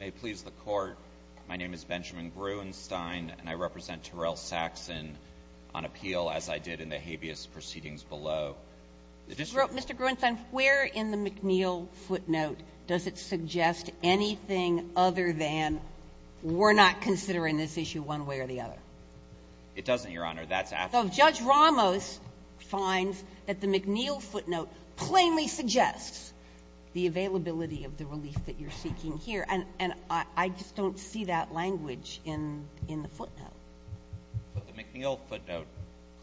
May it please the Court, my name is Benjamin Gruenstein, and I represent Terrell Saxon on appeal as I did in the habeas proceedings below the district. Mr. Gruenstein, where in the McNeil footnote does it suggest anything other than we're not considering this issue one way or the other? It doesn't, Your Honor. That's after. So if Judge Ramos finds that the McNeil footnote plainly suggests the availability of the relief that you're seeking here. And I just don't see that language in the footnote. But the McNeil footnote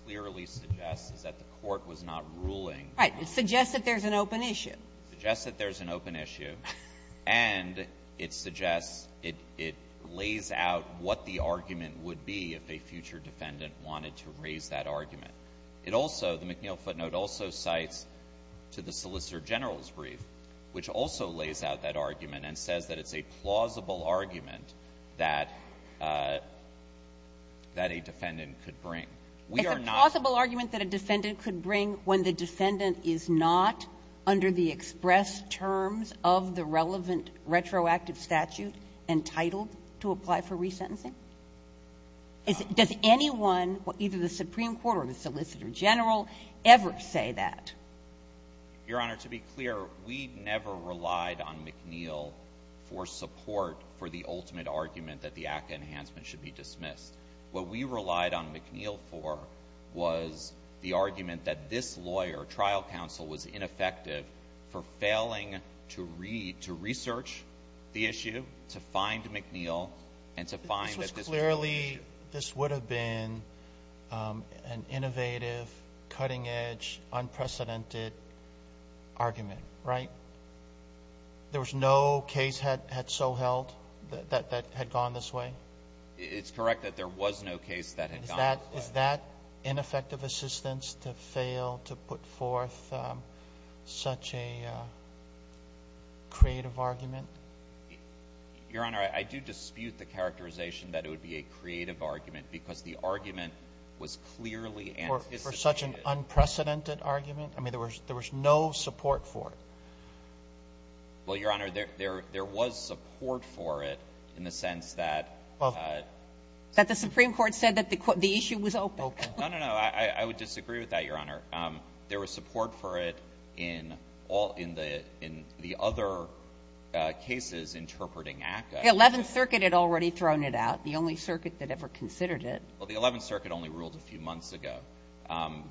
clearly suggests that the Court was not ruling. Right. It suggests that there's an open issue. Suggests that there's an open issue. And it suggests it lays out what the argument would be if a future defendant wanted to raise that argument. It also, the McNeil footnote also cites to the Solicitor General's brief, which also lays out that argument and says that it's a plausible argument that a defendant could bring. We are not. It's a plausible argument that a defendant could bring when the defendant is not, under the express terms of the relevant retroactive statute, entitled to apply for resentencing? Does anyone, either the Supreme Court or the Solicitor General, ever say that? Your Honor, to be clear, we never relied on McNeil for support for the ultimate argument that the ACCA enhancement should be dismissed. What we relied on McNeil for was the argument that this lawyer, trial counsel, was ineffective for failing to read, to research the issue, to find McNeil, and to discuss the issue. But it's clearly this would have been an innovative, cutting-edge, unprecedented argument, right? There was no case had so held that had gone this way? It's correct that there was no case that had gone this way. Is that ineffective assistance to fail to put forth such a creative argument? Your Honor, I do dispute the characterization that it would be a creative argument, because the argument was clearly anticipated. For such an unprecedented argument? I mean, there was no support for it. Well, Your Honor, there was support for it in the sense that the Supreme Court said that the issue was open. No, no, no. I would disagree with that, Your Honor. There was support for it in all the other cases interpreting ACCA. The Eleventh Circuit had already thrown it out, the only circuit that ever considered it. Well, the Eleventh Circuit only ruled a few months ago.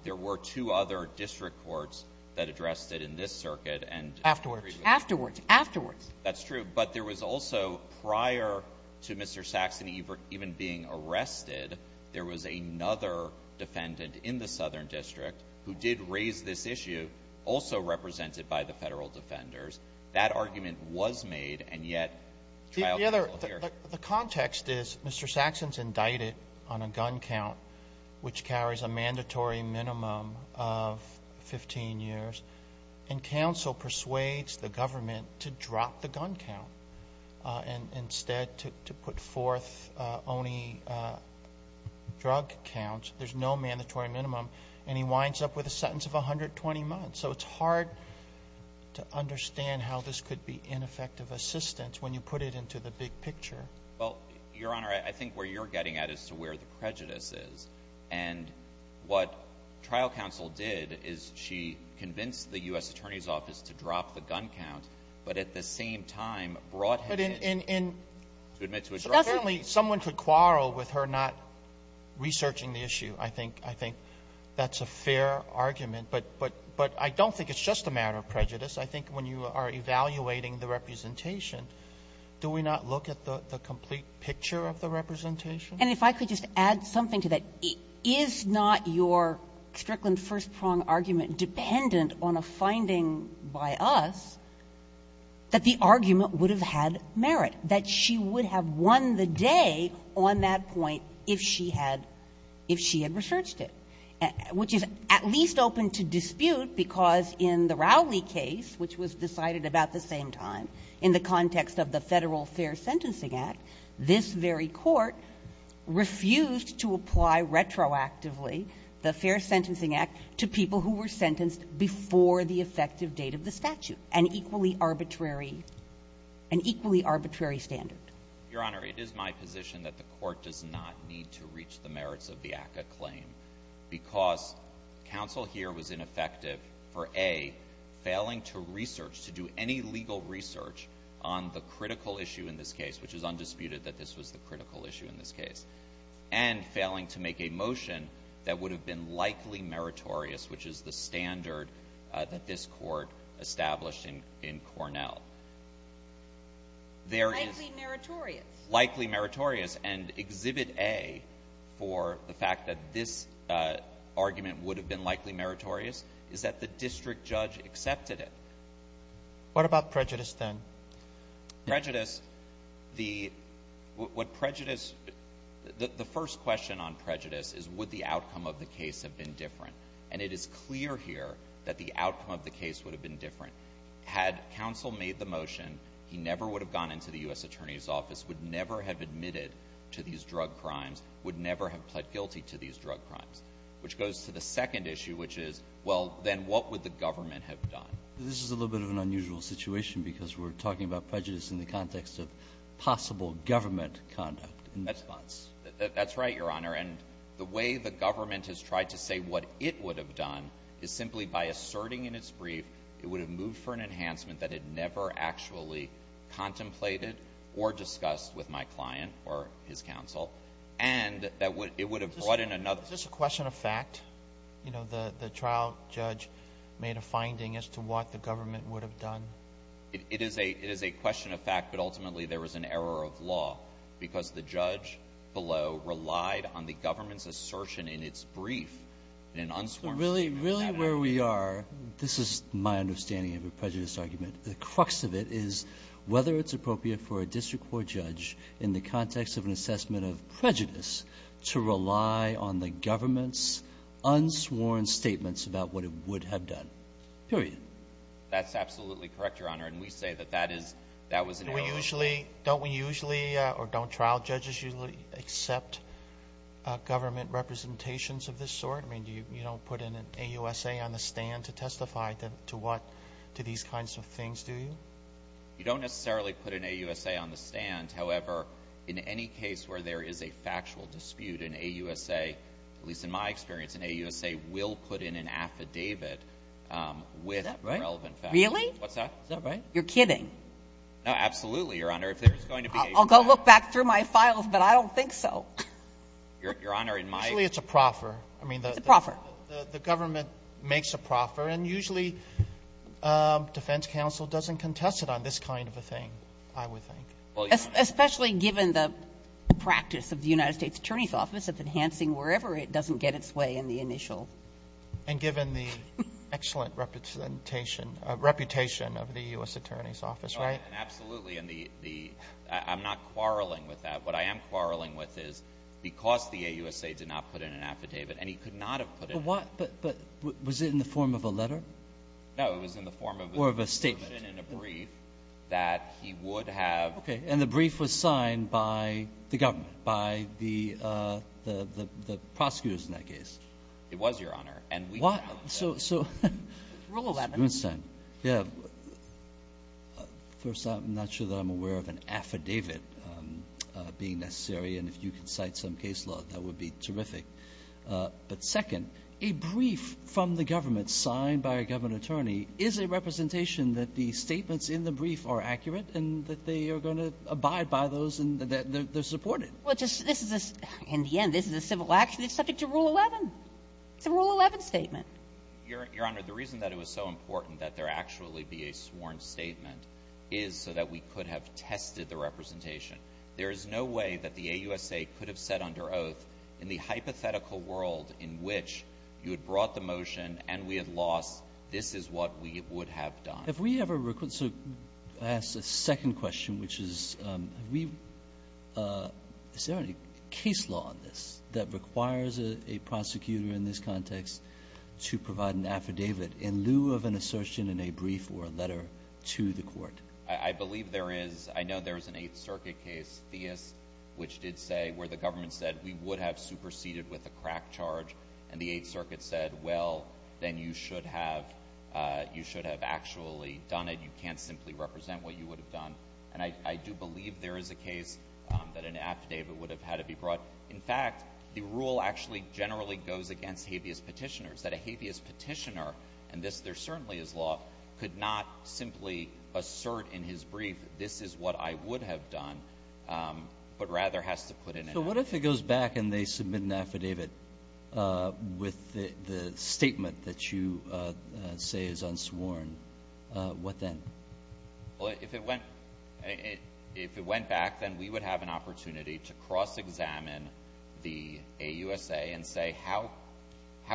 There were two other district courts that addressed it in this circuit and agreed with it. Afterwards. Afterwards. That's true. But there was also, prior to Mr. Saxony even being arrested, there was another defendant in the Southern District who did raise this issue, also represented by the federal defenders. That argument was made, and yet, trial could not appear. The context is Mr. Saxon's indicted on a gun count which carries a mandatory minimum of 15 years, and counsel persuades the government to drop the gun count and instead to put forth only drug counts. There's no mandatory minimum. And he winds up with a sentence of 120 months. So it's hard to understand how this could be ineffective assistance when you put it into the big picture. Well, Your Honor, I think where you're getting at is to where the prejudice is, and what trial counsel did is she convinced the U.S. Attorney's Office to drop the gun count, but at the same time brought him in to admit to a drug count. So apparently someone could quarrel with her not researching the issue. I think that's a fair argument. But I don't think it's just a matter of prejudice. I think when you are evaluating the representation, do we not look at the complete picture of the representation? And if I could just add something to that, is not your Strickland first-prong argument dependent on a finding by us that the argument would have had merit, that she would have won the day on that point if she had researched it, which is at least open to dispute because in the Rowley case, which was decided about the same time, in the context of the Federal Fair Sentencing Act, this very court refused to apply retroactively the Fair Sentencing Act to people who were sentenced before the effective date of the statute, an equally arbitrary — an equally arbitrary standard? Your Honor, it is my position that the Court does not need to reach the merits of the ACCA claim because counsel here was ineffective for, A, failing to research, to do any legal research on the critical issue in this case, which is undisputed that this was the critical issue in this case, and failing to make a motion that would have been likely meritorious, which is the standard that this Court established in Cornell. There is — Likely meritorious? Likely meritorious. And Exhibit A for the fact that this argument would have been likely meritorious is that the district judge accepted it. What about prejudice, then? Prejudice, the — what prejudice — the first question on prejudice is would the outcome of the case have been different. And it is clear here that the outcome of the case would have been different. Had counsel made the motion, he never would have gone into the U.S. Attorney's Office, would never have admitted to these drug crimes, would never have pled guilty to these drug crimes. Which goes to the second issue, which is, well, then what would the government have done? This is a little bit of an unusual situation, because we're talking about prejudice in the context of possible government conduct in this case. That's right, Your Honor. And the way the government has tried to say what it would have done is simply by asserting in its brief it would have moved for an enhancement that it never actually contemplated or discussed with my client or his counsel, and that it would have brought in another — Is this a question of fact? You know, the trial judge made a finding as to what the government would have done. It is a question of fact, but ultimately there was an error of law, because the judge below relied on the government's assertion in its brief, an unsworn statement of that argument. But really, really where we are — this is my understanding of a prejudice argument — the crux of it is whether it's appropriate for a district court judge in the context of an assessment of prejudice to rely on the government's unsworn statements about what it would have done, period. That's absolutely correct, Your Honor, and we say that that is — that was an error of law. Don't we usually — don't we usually — or don't trial judges usually accept government representations of this sort? I mean, you don't put an AUSA on the stand to testify to what — to these kinds of things, do you? You don't necessarily put an AUSA on the stand, however, in any case where there is a factual dispute, an AUSA — at least in my experience, an AUSA will put in an affidavit with relevant facts. Is that right? Really? What's that? Is that right? You're kidding. No, absolutely, Your Honor. If there's going to be a — I'll go look back through my files, but I don't think so. Your Honor, in my — Usually it's a proffer. It's a proffer. I mean, the government makes a proffer, and usually defense counsel doesn't contest it on this kind of a thing, I would think. Especially given the practice of the United States Attorney's Office of enhancing wherever it doesn't get its way in the initial. And given the excellent reputation of the U.S. Attorney's Office, right? Absolutely. And the — I'm not quarreling with that. What I am quarreling with is because the AUSA did not put in an affidavit, and he could not have put it — But what — but was it in the form of a letter? No. It was in the form of — Or of a statement. It was written in a brief that he would have — Okay. And the brief was signed by the government, by the prosecutors in that case? It was, Your Honor. And we — What? Rule 11. Mr. Bernstein. Yeah. First, I'm not sure that I'm aware of an affidavit being necessary, and if you could cite some case law, that would be terrific. But second, a brief from the government signed by a government attorney is a representation that the statements in the brief are accurate and that they are going to abide by those and that they're supported. Well, just — this is a — in the end, this is a civil action that's subject to Rule 11. It's a Rule 11 statement. Your Honor, the reason that it was so important that there actually be a sworn statement is so that we could have tested the representation. There is no way that the AUSA could have said under oath, in the hypothetical world in which you had brought the motion and we had lost, this is what we would have done. Have we ever — so, I ask a second question, which is, have we — is there any case law on this that requires a prosecutor in this context to provide an affidavit in lieu of an assertion in a brief or a letter to the court? I believe there is. I know there is an Eighth Circuit case, Theis, which did say — where the government said we would have superseded with a crack charge, and the Eighth Circuit said, well, then you should have — you should have actually done it. You can't simply represent what you would have done. And I do believe there is a case that an affidavit would have had to be brought. In fact, the rule actually generally goes against habeas petitioners, that a habeas petitioner — and this, there certainly is law — could not simply assert in his brief, this is what I would have done, but rather has to put in an affidavit. If it goes back and they submit an affidavit with the statement that you say is unsworn, what then? Well, if it went — if it went back, then we would have an opportunity to cross-examine the AUSA and say, how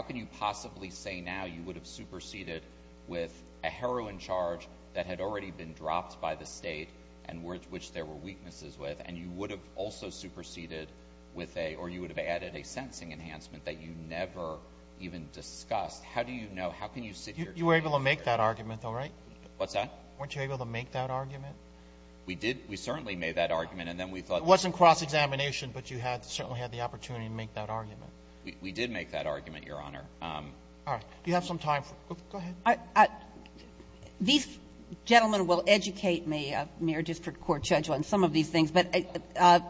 can you possibly say now you would have superseded with a heroin charge that had already been dropped by the state and which there were weaknesses with, and you would have also superseded with a — or you would have added a sentencing enhancement that you never even discussed, how do you know, how can you sit your case here? You were able to make that argument, though, right? What's that? Weren't you able to make that argument? We did. We certainly made that argument, and then we thought — It wasn't cross-examination, but you had — certainly had the opportunity to make that argument. We did make that argument, Your Honor. All right. Do you have some time for — go ahead. I — these gentlemen will educate me, a mere district court judge, on some of these things, but under the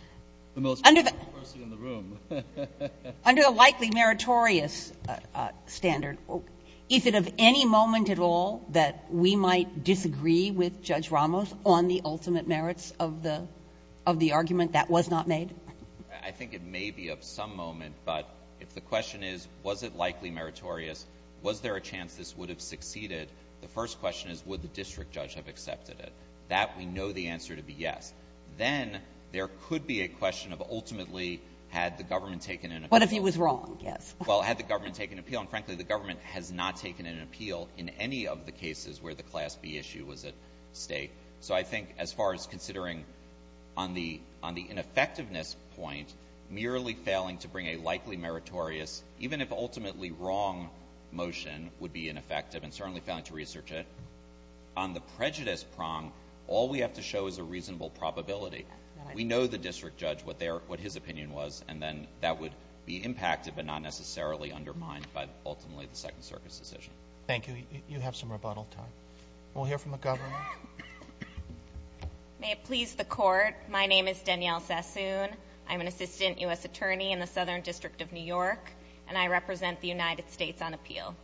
— The most powerful person in the room. Under the likely meritorious standard, is it of any moment at all that we might disagree with Judge Ramos on the ultimate merits of the — of the argument that was not made? I think it may be of some moment, but if the question is, was it likely meritorious, was there a chance this would have succeeded, the first question is, would the district judge have accepted it? That, we know the answer to be yes. Then there could be a question of, ultimately, had the government taken an — What if he was wrong? Yes. Well, had the government taken an appeal? And, frankly, the government has not taken an appeal in any of the cases where the Class B issue was at stake. So I think as far as considering on the — on the ineffectiveness point, merely failing to bring a likely meritorious, even if ultimately wrong, motion would be ineffective and certainly failing to research it, on the prejudice prong, all we have to show is a reasonable probability. We know the district judge, what their — what his opinion was, and then that would be impacted but not necessarily undermined by, ultimately, the Second Circuit's decision. Thank you. You have some rebuttal time. We'll hear from the governor. May it please the Court, my name is Danielle Sassoon. I'm an assistant U.S. attorney in the Southern District of New York, and I represent the United States on appeal.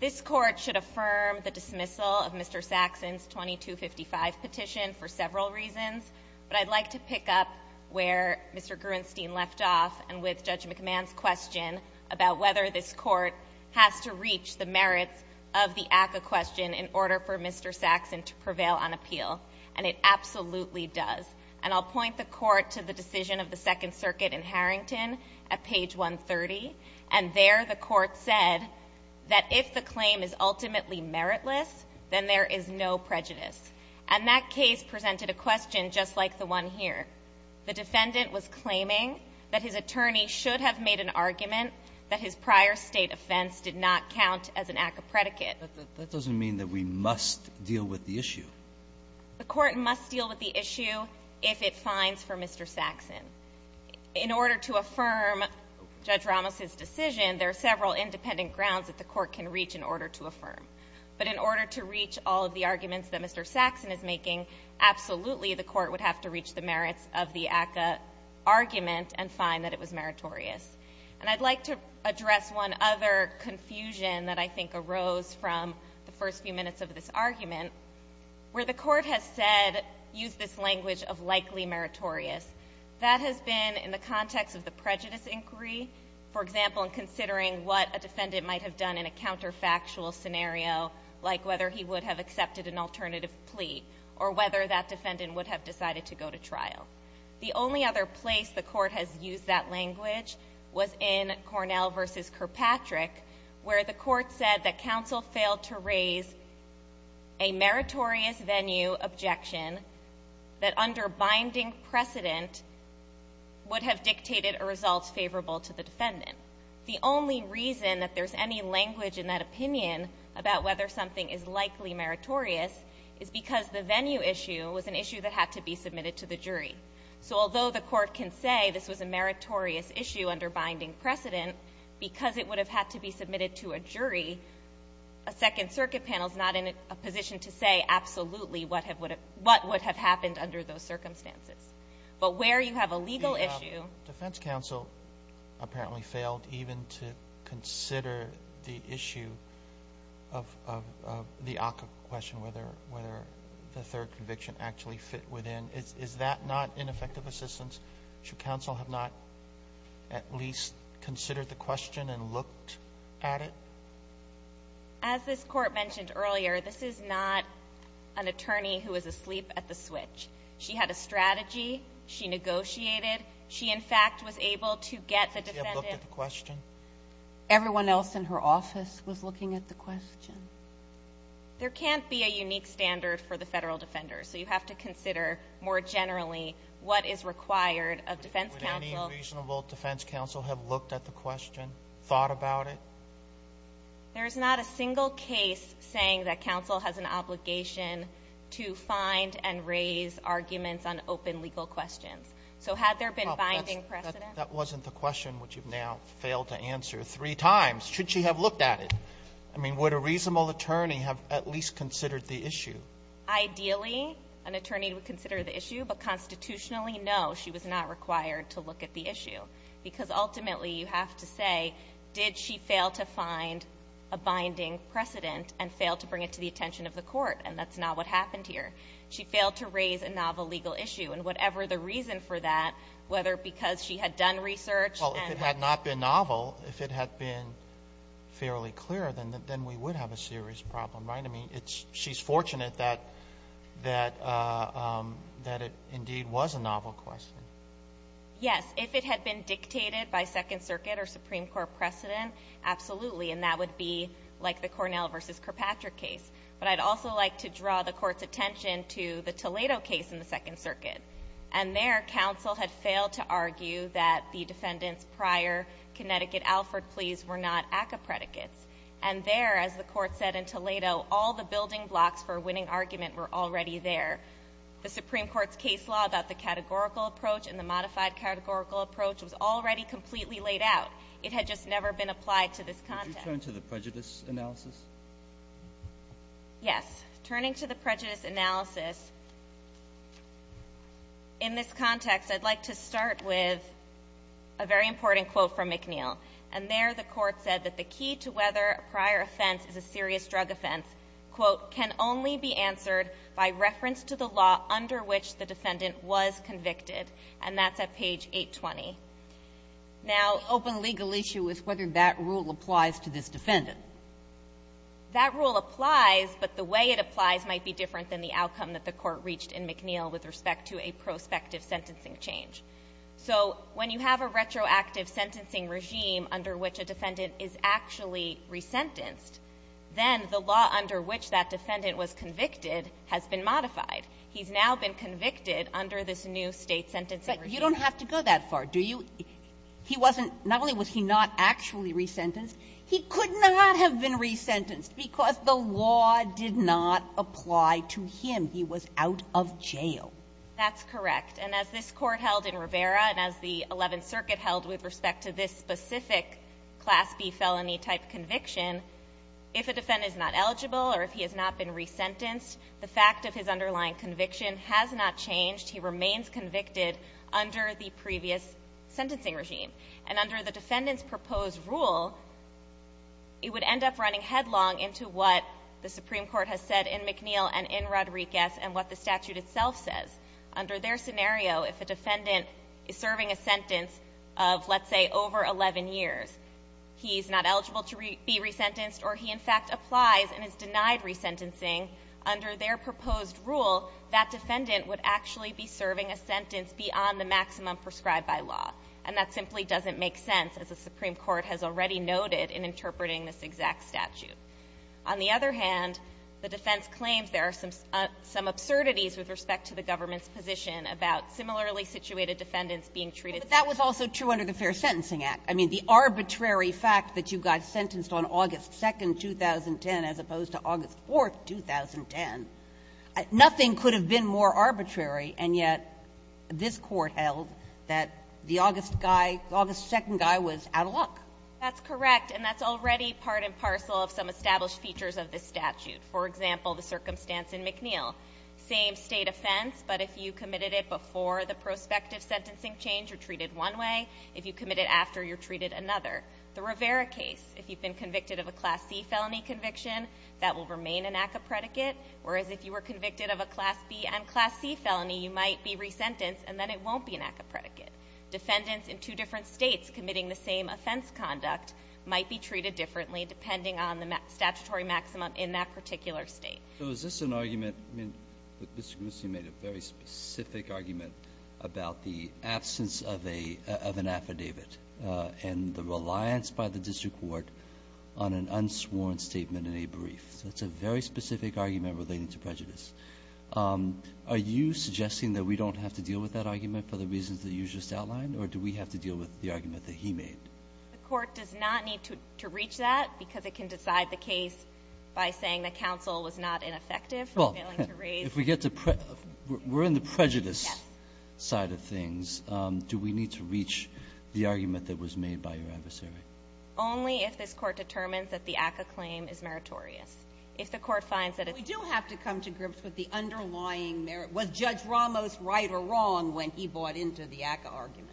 This Court should affirm the dismissal of Mr. Saxon's 2255 petition for several reasons, but I'd like to pick up where Mr. Gruenstein left off and with Judge McMahon's question about whether this Court has to reach the merits of the ACCA question in order for Mr. Saxon to prevail on appeal. And it absolutely does. And I'll point the Court to the decision of the Second Circuit in Harrington at page 130, and there the Court said that if the claim is ultimately meritless, then there is no prejudice. And that case presented a question just like the one here. The defendant was claiming that his attorney should have made an argument that his prior State offense did not count as an ACCA predicate. But that doesn't mean that we must deal with the issue. The Court must deal with the issue if it finds for Mr. Saxon. In order to affirm Judge Ramos's decision, there are several independent grounds that the Court can reach in order to affirm. But in order to reach all of the arguments that Mr. Saxon is making, absolutely the Court would have to reach the merits of the ACCA argument and find that it was meritorious. And I'd like to address one other confusion that I think arose from the first few minutes of this argument, where the Court has said, used this language of likely meritorious. That has been in the context of the prejudice inquiry. For example, in considering what a defendant might have done in a counterfactual scenario, like whether he would have accepted an alternative plea, or whether that defendant would have decided to go to trial. The only other place the Court has used that language was in Cornell versus Kirkpatrick, where the Court said that counsel failed to raise a meritorious venue objection that under binding precedent would have dictated a result favorable to the defendant. The only reason that there's any language in that opinion about whether something is likely meritorious is because the venue issue was an issue that had to be submitted to the jury. So although the Court can say this was a meritorious issue under binding precedent, because it would have had to be submitted to a jury, a Second Circuit panel is not in a position to say absolutely what would have happened under those circumstances. But where you have a legal issue ---- Roberts. Defense counsel apparently failed even to consider the issue of the ACCA question, whether the third conviction actually fit within. Is that not ineffective assistance? Should counsel have not at least considered the question and looked at it? As this Court mentioned earlier, this is not an attorney who is asleep at the switch. She had a strategy. She negotiated. She, in fact, was able to get the defendant ---- Did she have a look at the question? Everyone else in her office was looking at the question. There can't be a unique standard for the Federal Defender. So you have to consider more generally what is required of defense counsel. Would any reasonable defense counsel have looked at the question, thought about it? There is not a single case saying that counsel has an obligation to find and raise arguments on open legal questions. So had there been binding precedent? That wasn't the question which you've now failed to answer three times. Should she have looked at it? I mean, would a reasonable attorney have at least considered the issue? Ideally, an attorney would consider the issue, but constitutionally, no, she was not required to look at the issue. Because ultimately, you have to say, did she fail to find a binding precedent and fail to bring it to the attention of the court? And that's not what happened here. She failed to raise a novel legal issue. And whatever the reason for that, whether because she had done research and ---- Well, if it had not been novel, if it had been fairly clear, then we would have a serious problem, right? I mean, it's ---- she's fortunate that it indeed was a novel question. Yes. If it had been dictated by Second Circuit or Supreme Court precedent, absolutely. And that would be like the Cornell v. Kirkpatrick case. But I'd also like to draw the Court's attention to the Toledo case in the Second Circuit. And there, counsel had failed to argue that the defendant's prior Connecticut Alford pleas were not ACCA predicates. And there, as the Court said in Toledo, all the building blocks for a winning argument were already there. The Supreme Court's case law about the categorical approach and the modified categorical approach was already completely laid out. It had just never been applied to this context. Could you turn to the prejudice analysis? Yes. Turning to the prejudice analysis, in this context, I'd like to start with a very important quote from McNeil. And there, the Court said that the key to whether a prior offense is a serious drug offense, quote, can only be answered by reference to the law under which the defendant was convicted. And that's at page 820. Now the open legal issue is whether that rule applies to this defendant. That rule applies, but the way it applies might be different than the outcome that the Court reached in McNeil with respect to a prospective sentencing change. So when you have a retroactive sentencing regime under which a defendant is actually re-sentenced, then the law under which that defendant was convicted has been modified. He's now been convicted under this new State sentencing regime. But you don't have to go that far, do you? He wasn't – not only was he not actually re-sentenced, he could not have been re-sentenced because the law did not apply to him. He was out of jail. That's correct. And as this Court held in Rivera and as the Eleventh Circuit held with respect to this specific Class B felony-type conviction, if a defendant is not eligible or if he has not been re-sentenced, the fact of his underlying conviction has not changed. He remains convicted under the previous sentencing regime. And under the defendant's proposed rule, it would end up running headlong into what the Supreme Court has said in McNeil and in Rodriguez and what the statute itself says. Under their scenario, if a defendant is serving a sentence of, let's say, over 11 years, he's not eligible to be re-sentenced or he, in fact, applies and is denied re-sentencing, under their proposed rule, that defendant would actually be serving a sentence beyond the maximum prescribed by law. And that simply doesn't make sense, as the Supreme Court has already noted in interpreting this exact statute. On the other hand, the defense claims there are some absurdities with respect to the government's position about similarly-situated defendants being treated the same. But that was also true under the Fair Sentencing Act. I mean, the arbitrary fact that you got sentenced on August 2nd, 2010, as opposed to August 4th, 2010, nothing could have been more arbitrary, and yet this Court held that the August guy, the August 2nd guy, was out of luck. That's correct, and that's already part and parcel of some established features of this statute. For example, the circumstance in McNeil. Same state offense, but if you committed it before the prospective sentencing change, you're treated one way. If you commit it after, you're treated another. The Rivera case, if you've been convicted of a Class C felony conviction, that will remain an ACCA predicate. Whereas if you were convicted of a Class B and Class C felony, you might be re-sentenced, and then it won't be an ACCA predicate. Defendants in two different states committing the same offense conduct might be treated differently, depending on the statutory maximum in that particular state. So is this an argument, I mean, Mr. Gnusse made a very specific argument about the absence of an affidavit. And the reliance by the district court on an unsworn statement in a brief. So it's a very specific argument relating to prejudice. Are you suggesting that we don't have to deal with that argument for the reasons that you just outlined, or do we have to deal with the argument that he made? The court does not need to reach that, because it can decide the case by saying the counsel was not ineffective in failing to raise. Well, if we get to prejudice, we're in the prejudice side of things, do we need to reach the argument that was made by your adversary? Only if this Court determines that the ACCA claim is meritorious. If the Court finds that it's. We do have to come to grips with the underlying merit. Was Judge Ramos right or wrong when he bought into the ACCA argument?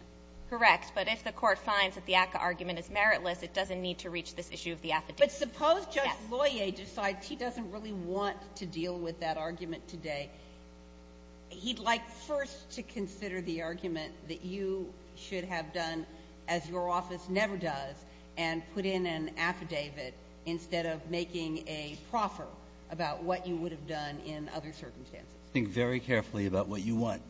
Correct, but if the court finds that the ACCA argument is meritless, it doesn't need to reach this issue of the affidavit. But suppose Judge Loyer decides he doesn't really want to deal with that argument today. He'd like first to consider the argument that you should have done as your office never does, and put in an affidavit instead of making a proffer about what you would have done in other circumstances. Think very carefully about what you want.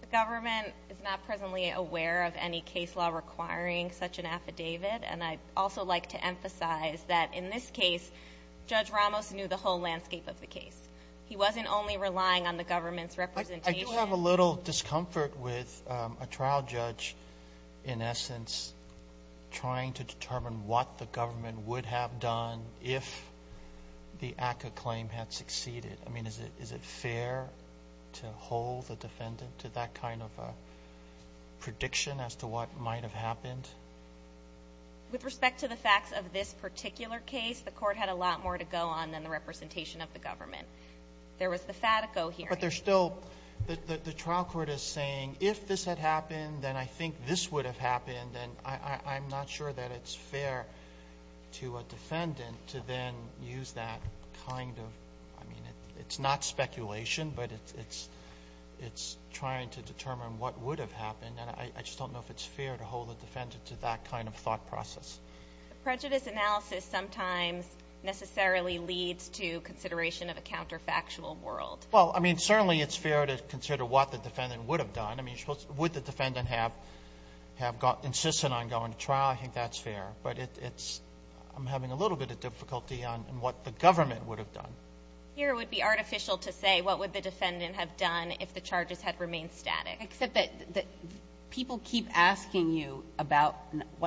The government is not presently aware of any case law requiring such an affidavit. And I'd also like to emphasize that in this case, Judge Ramos knew the whole landscape of the case. He wasn't only relying on the government's representation. I do have a little discomfort with a trial judge, in essence, trying to determine what the government would have done if the ACCA claim had succeeded. I mean, is it fair to hold the defendant to that kind of a prediction as to what might have happened? With respect to the facts of this particular case, the court had a lot more to go on than the representation of the government. There was the Fatico hearing. But there's still, the trial court is saying, if this had happened, then I think this would have happened. And I'm not sure that it's fair to a defendant to then use that kind of, I mean, it's not speculation, but it's trying to determine what would have happened. And I just don't know if it's fair to hold the defendant to that kind of thought process. Prejudice analysis sometimes necessarily leads to consideration of a counterfactual world. Well, I mean, certainly it's fair to consider what the defendant would have done. I mean, would the defendant have insisted on going to trial? I think that's fair. But it's, I'm having a little bit of difficulty on what the government would have done. Here it would be artificial to say what would the defendant have done if the charges had remained static. Except that people keep asking you about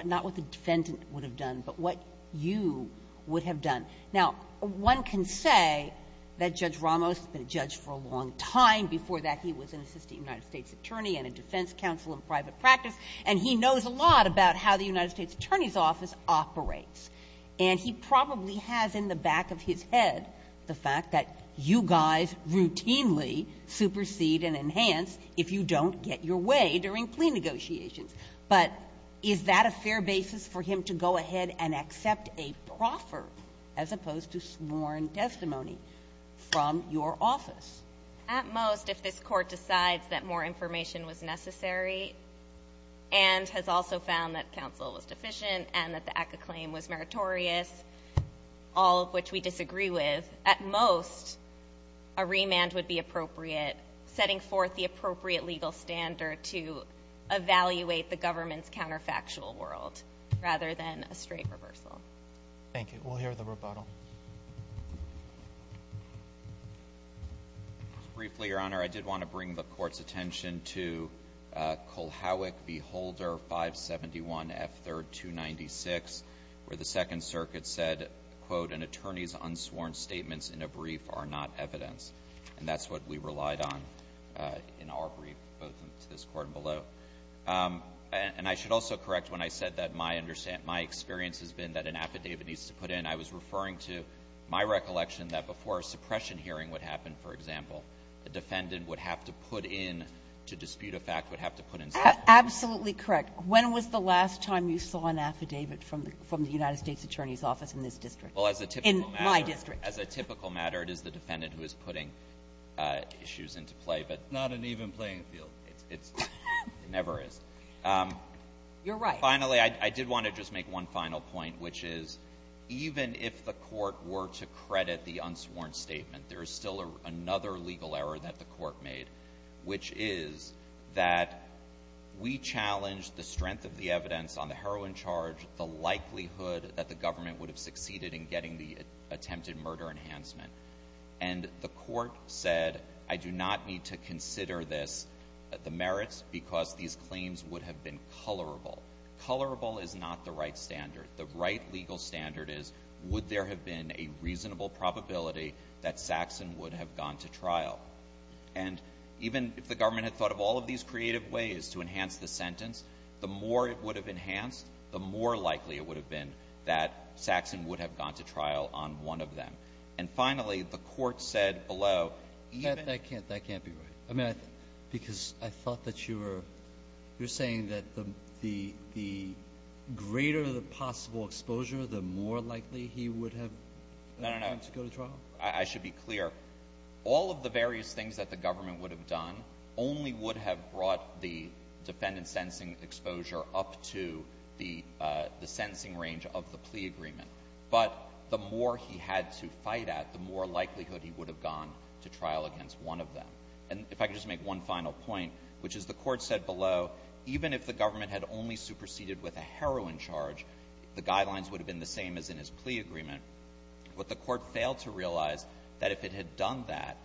not what the defendant would have done, but what you would have done. Now, one can say that Judge Ramos has been a judge for a long time. Before that, he was an assistant United States attorney and a defense counsel in private practice. And he knows a lot about how the United States Attorney's Office operates. And he probably has in the back of his head the fact that you guys routinely supersede and enhance if you don't get your way during plea negotiations. But is that a fair basis for him to go ahead and accept a proffer as opposed to sworn testimony from your office? At most, if this court decides that more information was necessary and has also found that counsel was deficient and that the act of claim was meritorious, all of which we disagree with. At most, a remand would be appropriate, setting forth the appropriate legal standard to evaluate the government's counterfactual world rather than a straight reversal. Thank you. We'll hear the rebuttal. Briefly, Your Honor, I did want to bring the court's attention to Kulhavik v Holder 571 F3rd 296, where the Second Circuit said, quote, an attorney's unsworn statements in a brief are not evidence. And that's what we relied on in our brief, both to this court and below. And I should also correct when I said that my experience has been that an affidavit needs to put in. And I was referring to my recollection that before a suppression hearing would happen, for example, the defendant would have to put in, to dispute a fact, would have to put in something. Absolutely correct. When was the last time you saw an affidavit from the United States Attorney's Office in this district? In my district. As a typical matter, it is the defendant who is putting issues into play. But it's not an even playing field. It's, it never is. You're right. Finally, I did want to just make one final point, which is, even if the court were to credit the unsworn statement, there is still another legal error that the court made. Which is that we challenged the strength of the evidence on the heroin charge, the likelihood that the government would have succeeded in getting the attempted murder enhancement. And the court said, I do not need to consider this, the merits, because these claims would have been colorable. Colorable is not the right standard. The right legal standard is, would there have been a reasonable probability that Saxon would have gone to trial? And even if the government had thought of all of these creative ways to enhance the sentence, the more it would have enhanced, the more likely it would have been that Saxon would have gone to trial on one of them. And finally, the court said below, even- That can't be right. I mean, because I thought that you were, you're saying that the, the, the greater the possible exposure, the more likely he would have gone to go to trial? I should be clear. All of the various things that the government would have done only would have brought the defendant's sentencing exposure up to the sentencing range of the plea agreement. But the more he had to fight at, the more likelihood he would have gone to trial against one of them. And if I could just make one final point, which is the court said below, even if the government had only superseded with a heroin charge, the guidelines would have been the same as in his plea agreement. But the court failed to realize that if it had done that,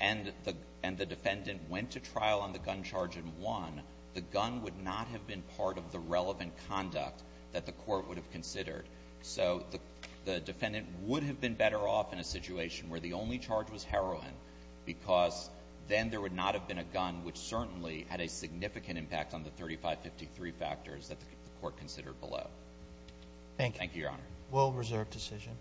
and the defendant went to trial on the gun charge and won, the gun would not have been part of the relevant conduct that the court would have considered. So the defendant would have been better off in a situation where the only charge was heroin, because then there would not have been a gun which certainly had a significant impact on the 3553 factors that the court considered below. Thank you, Your Honor. Will reserve decision.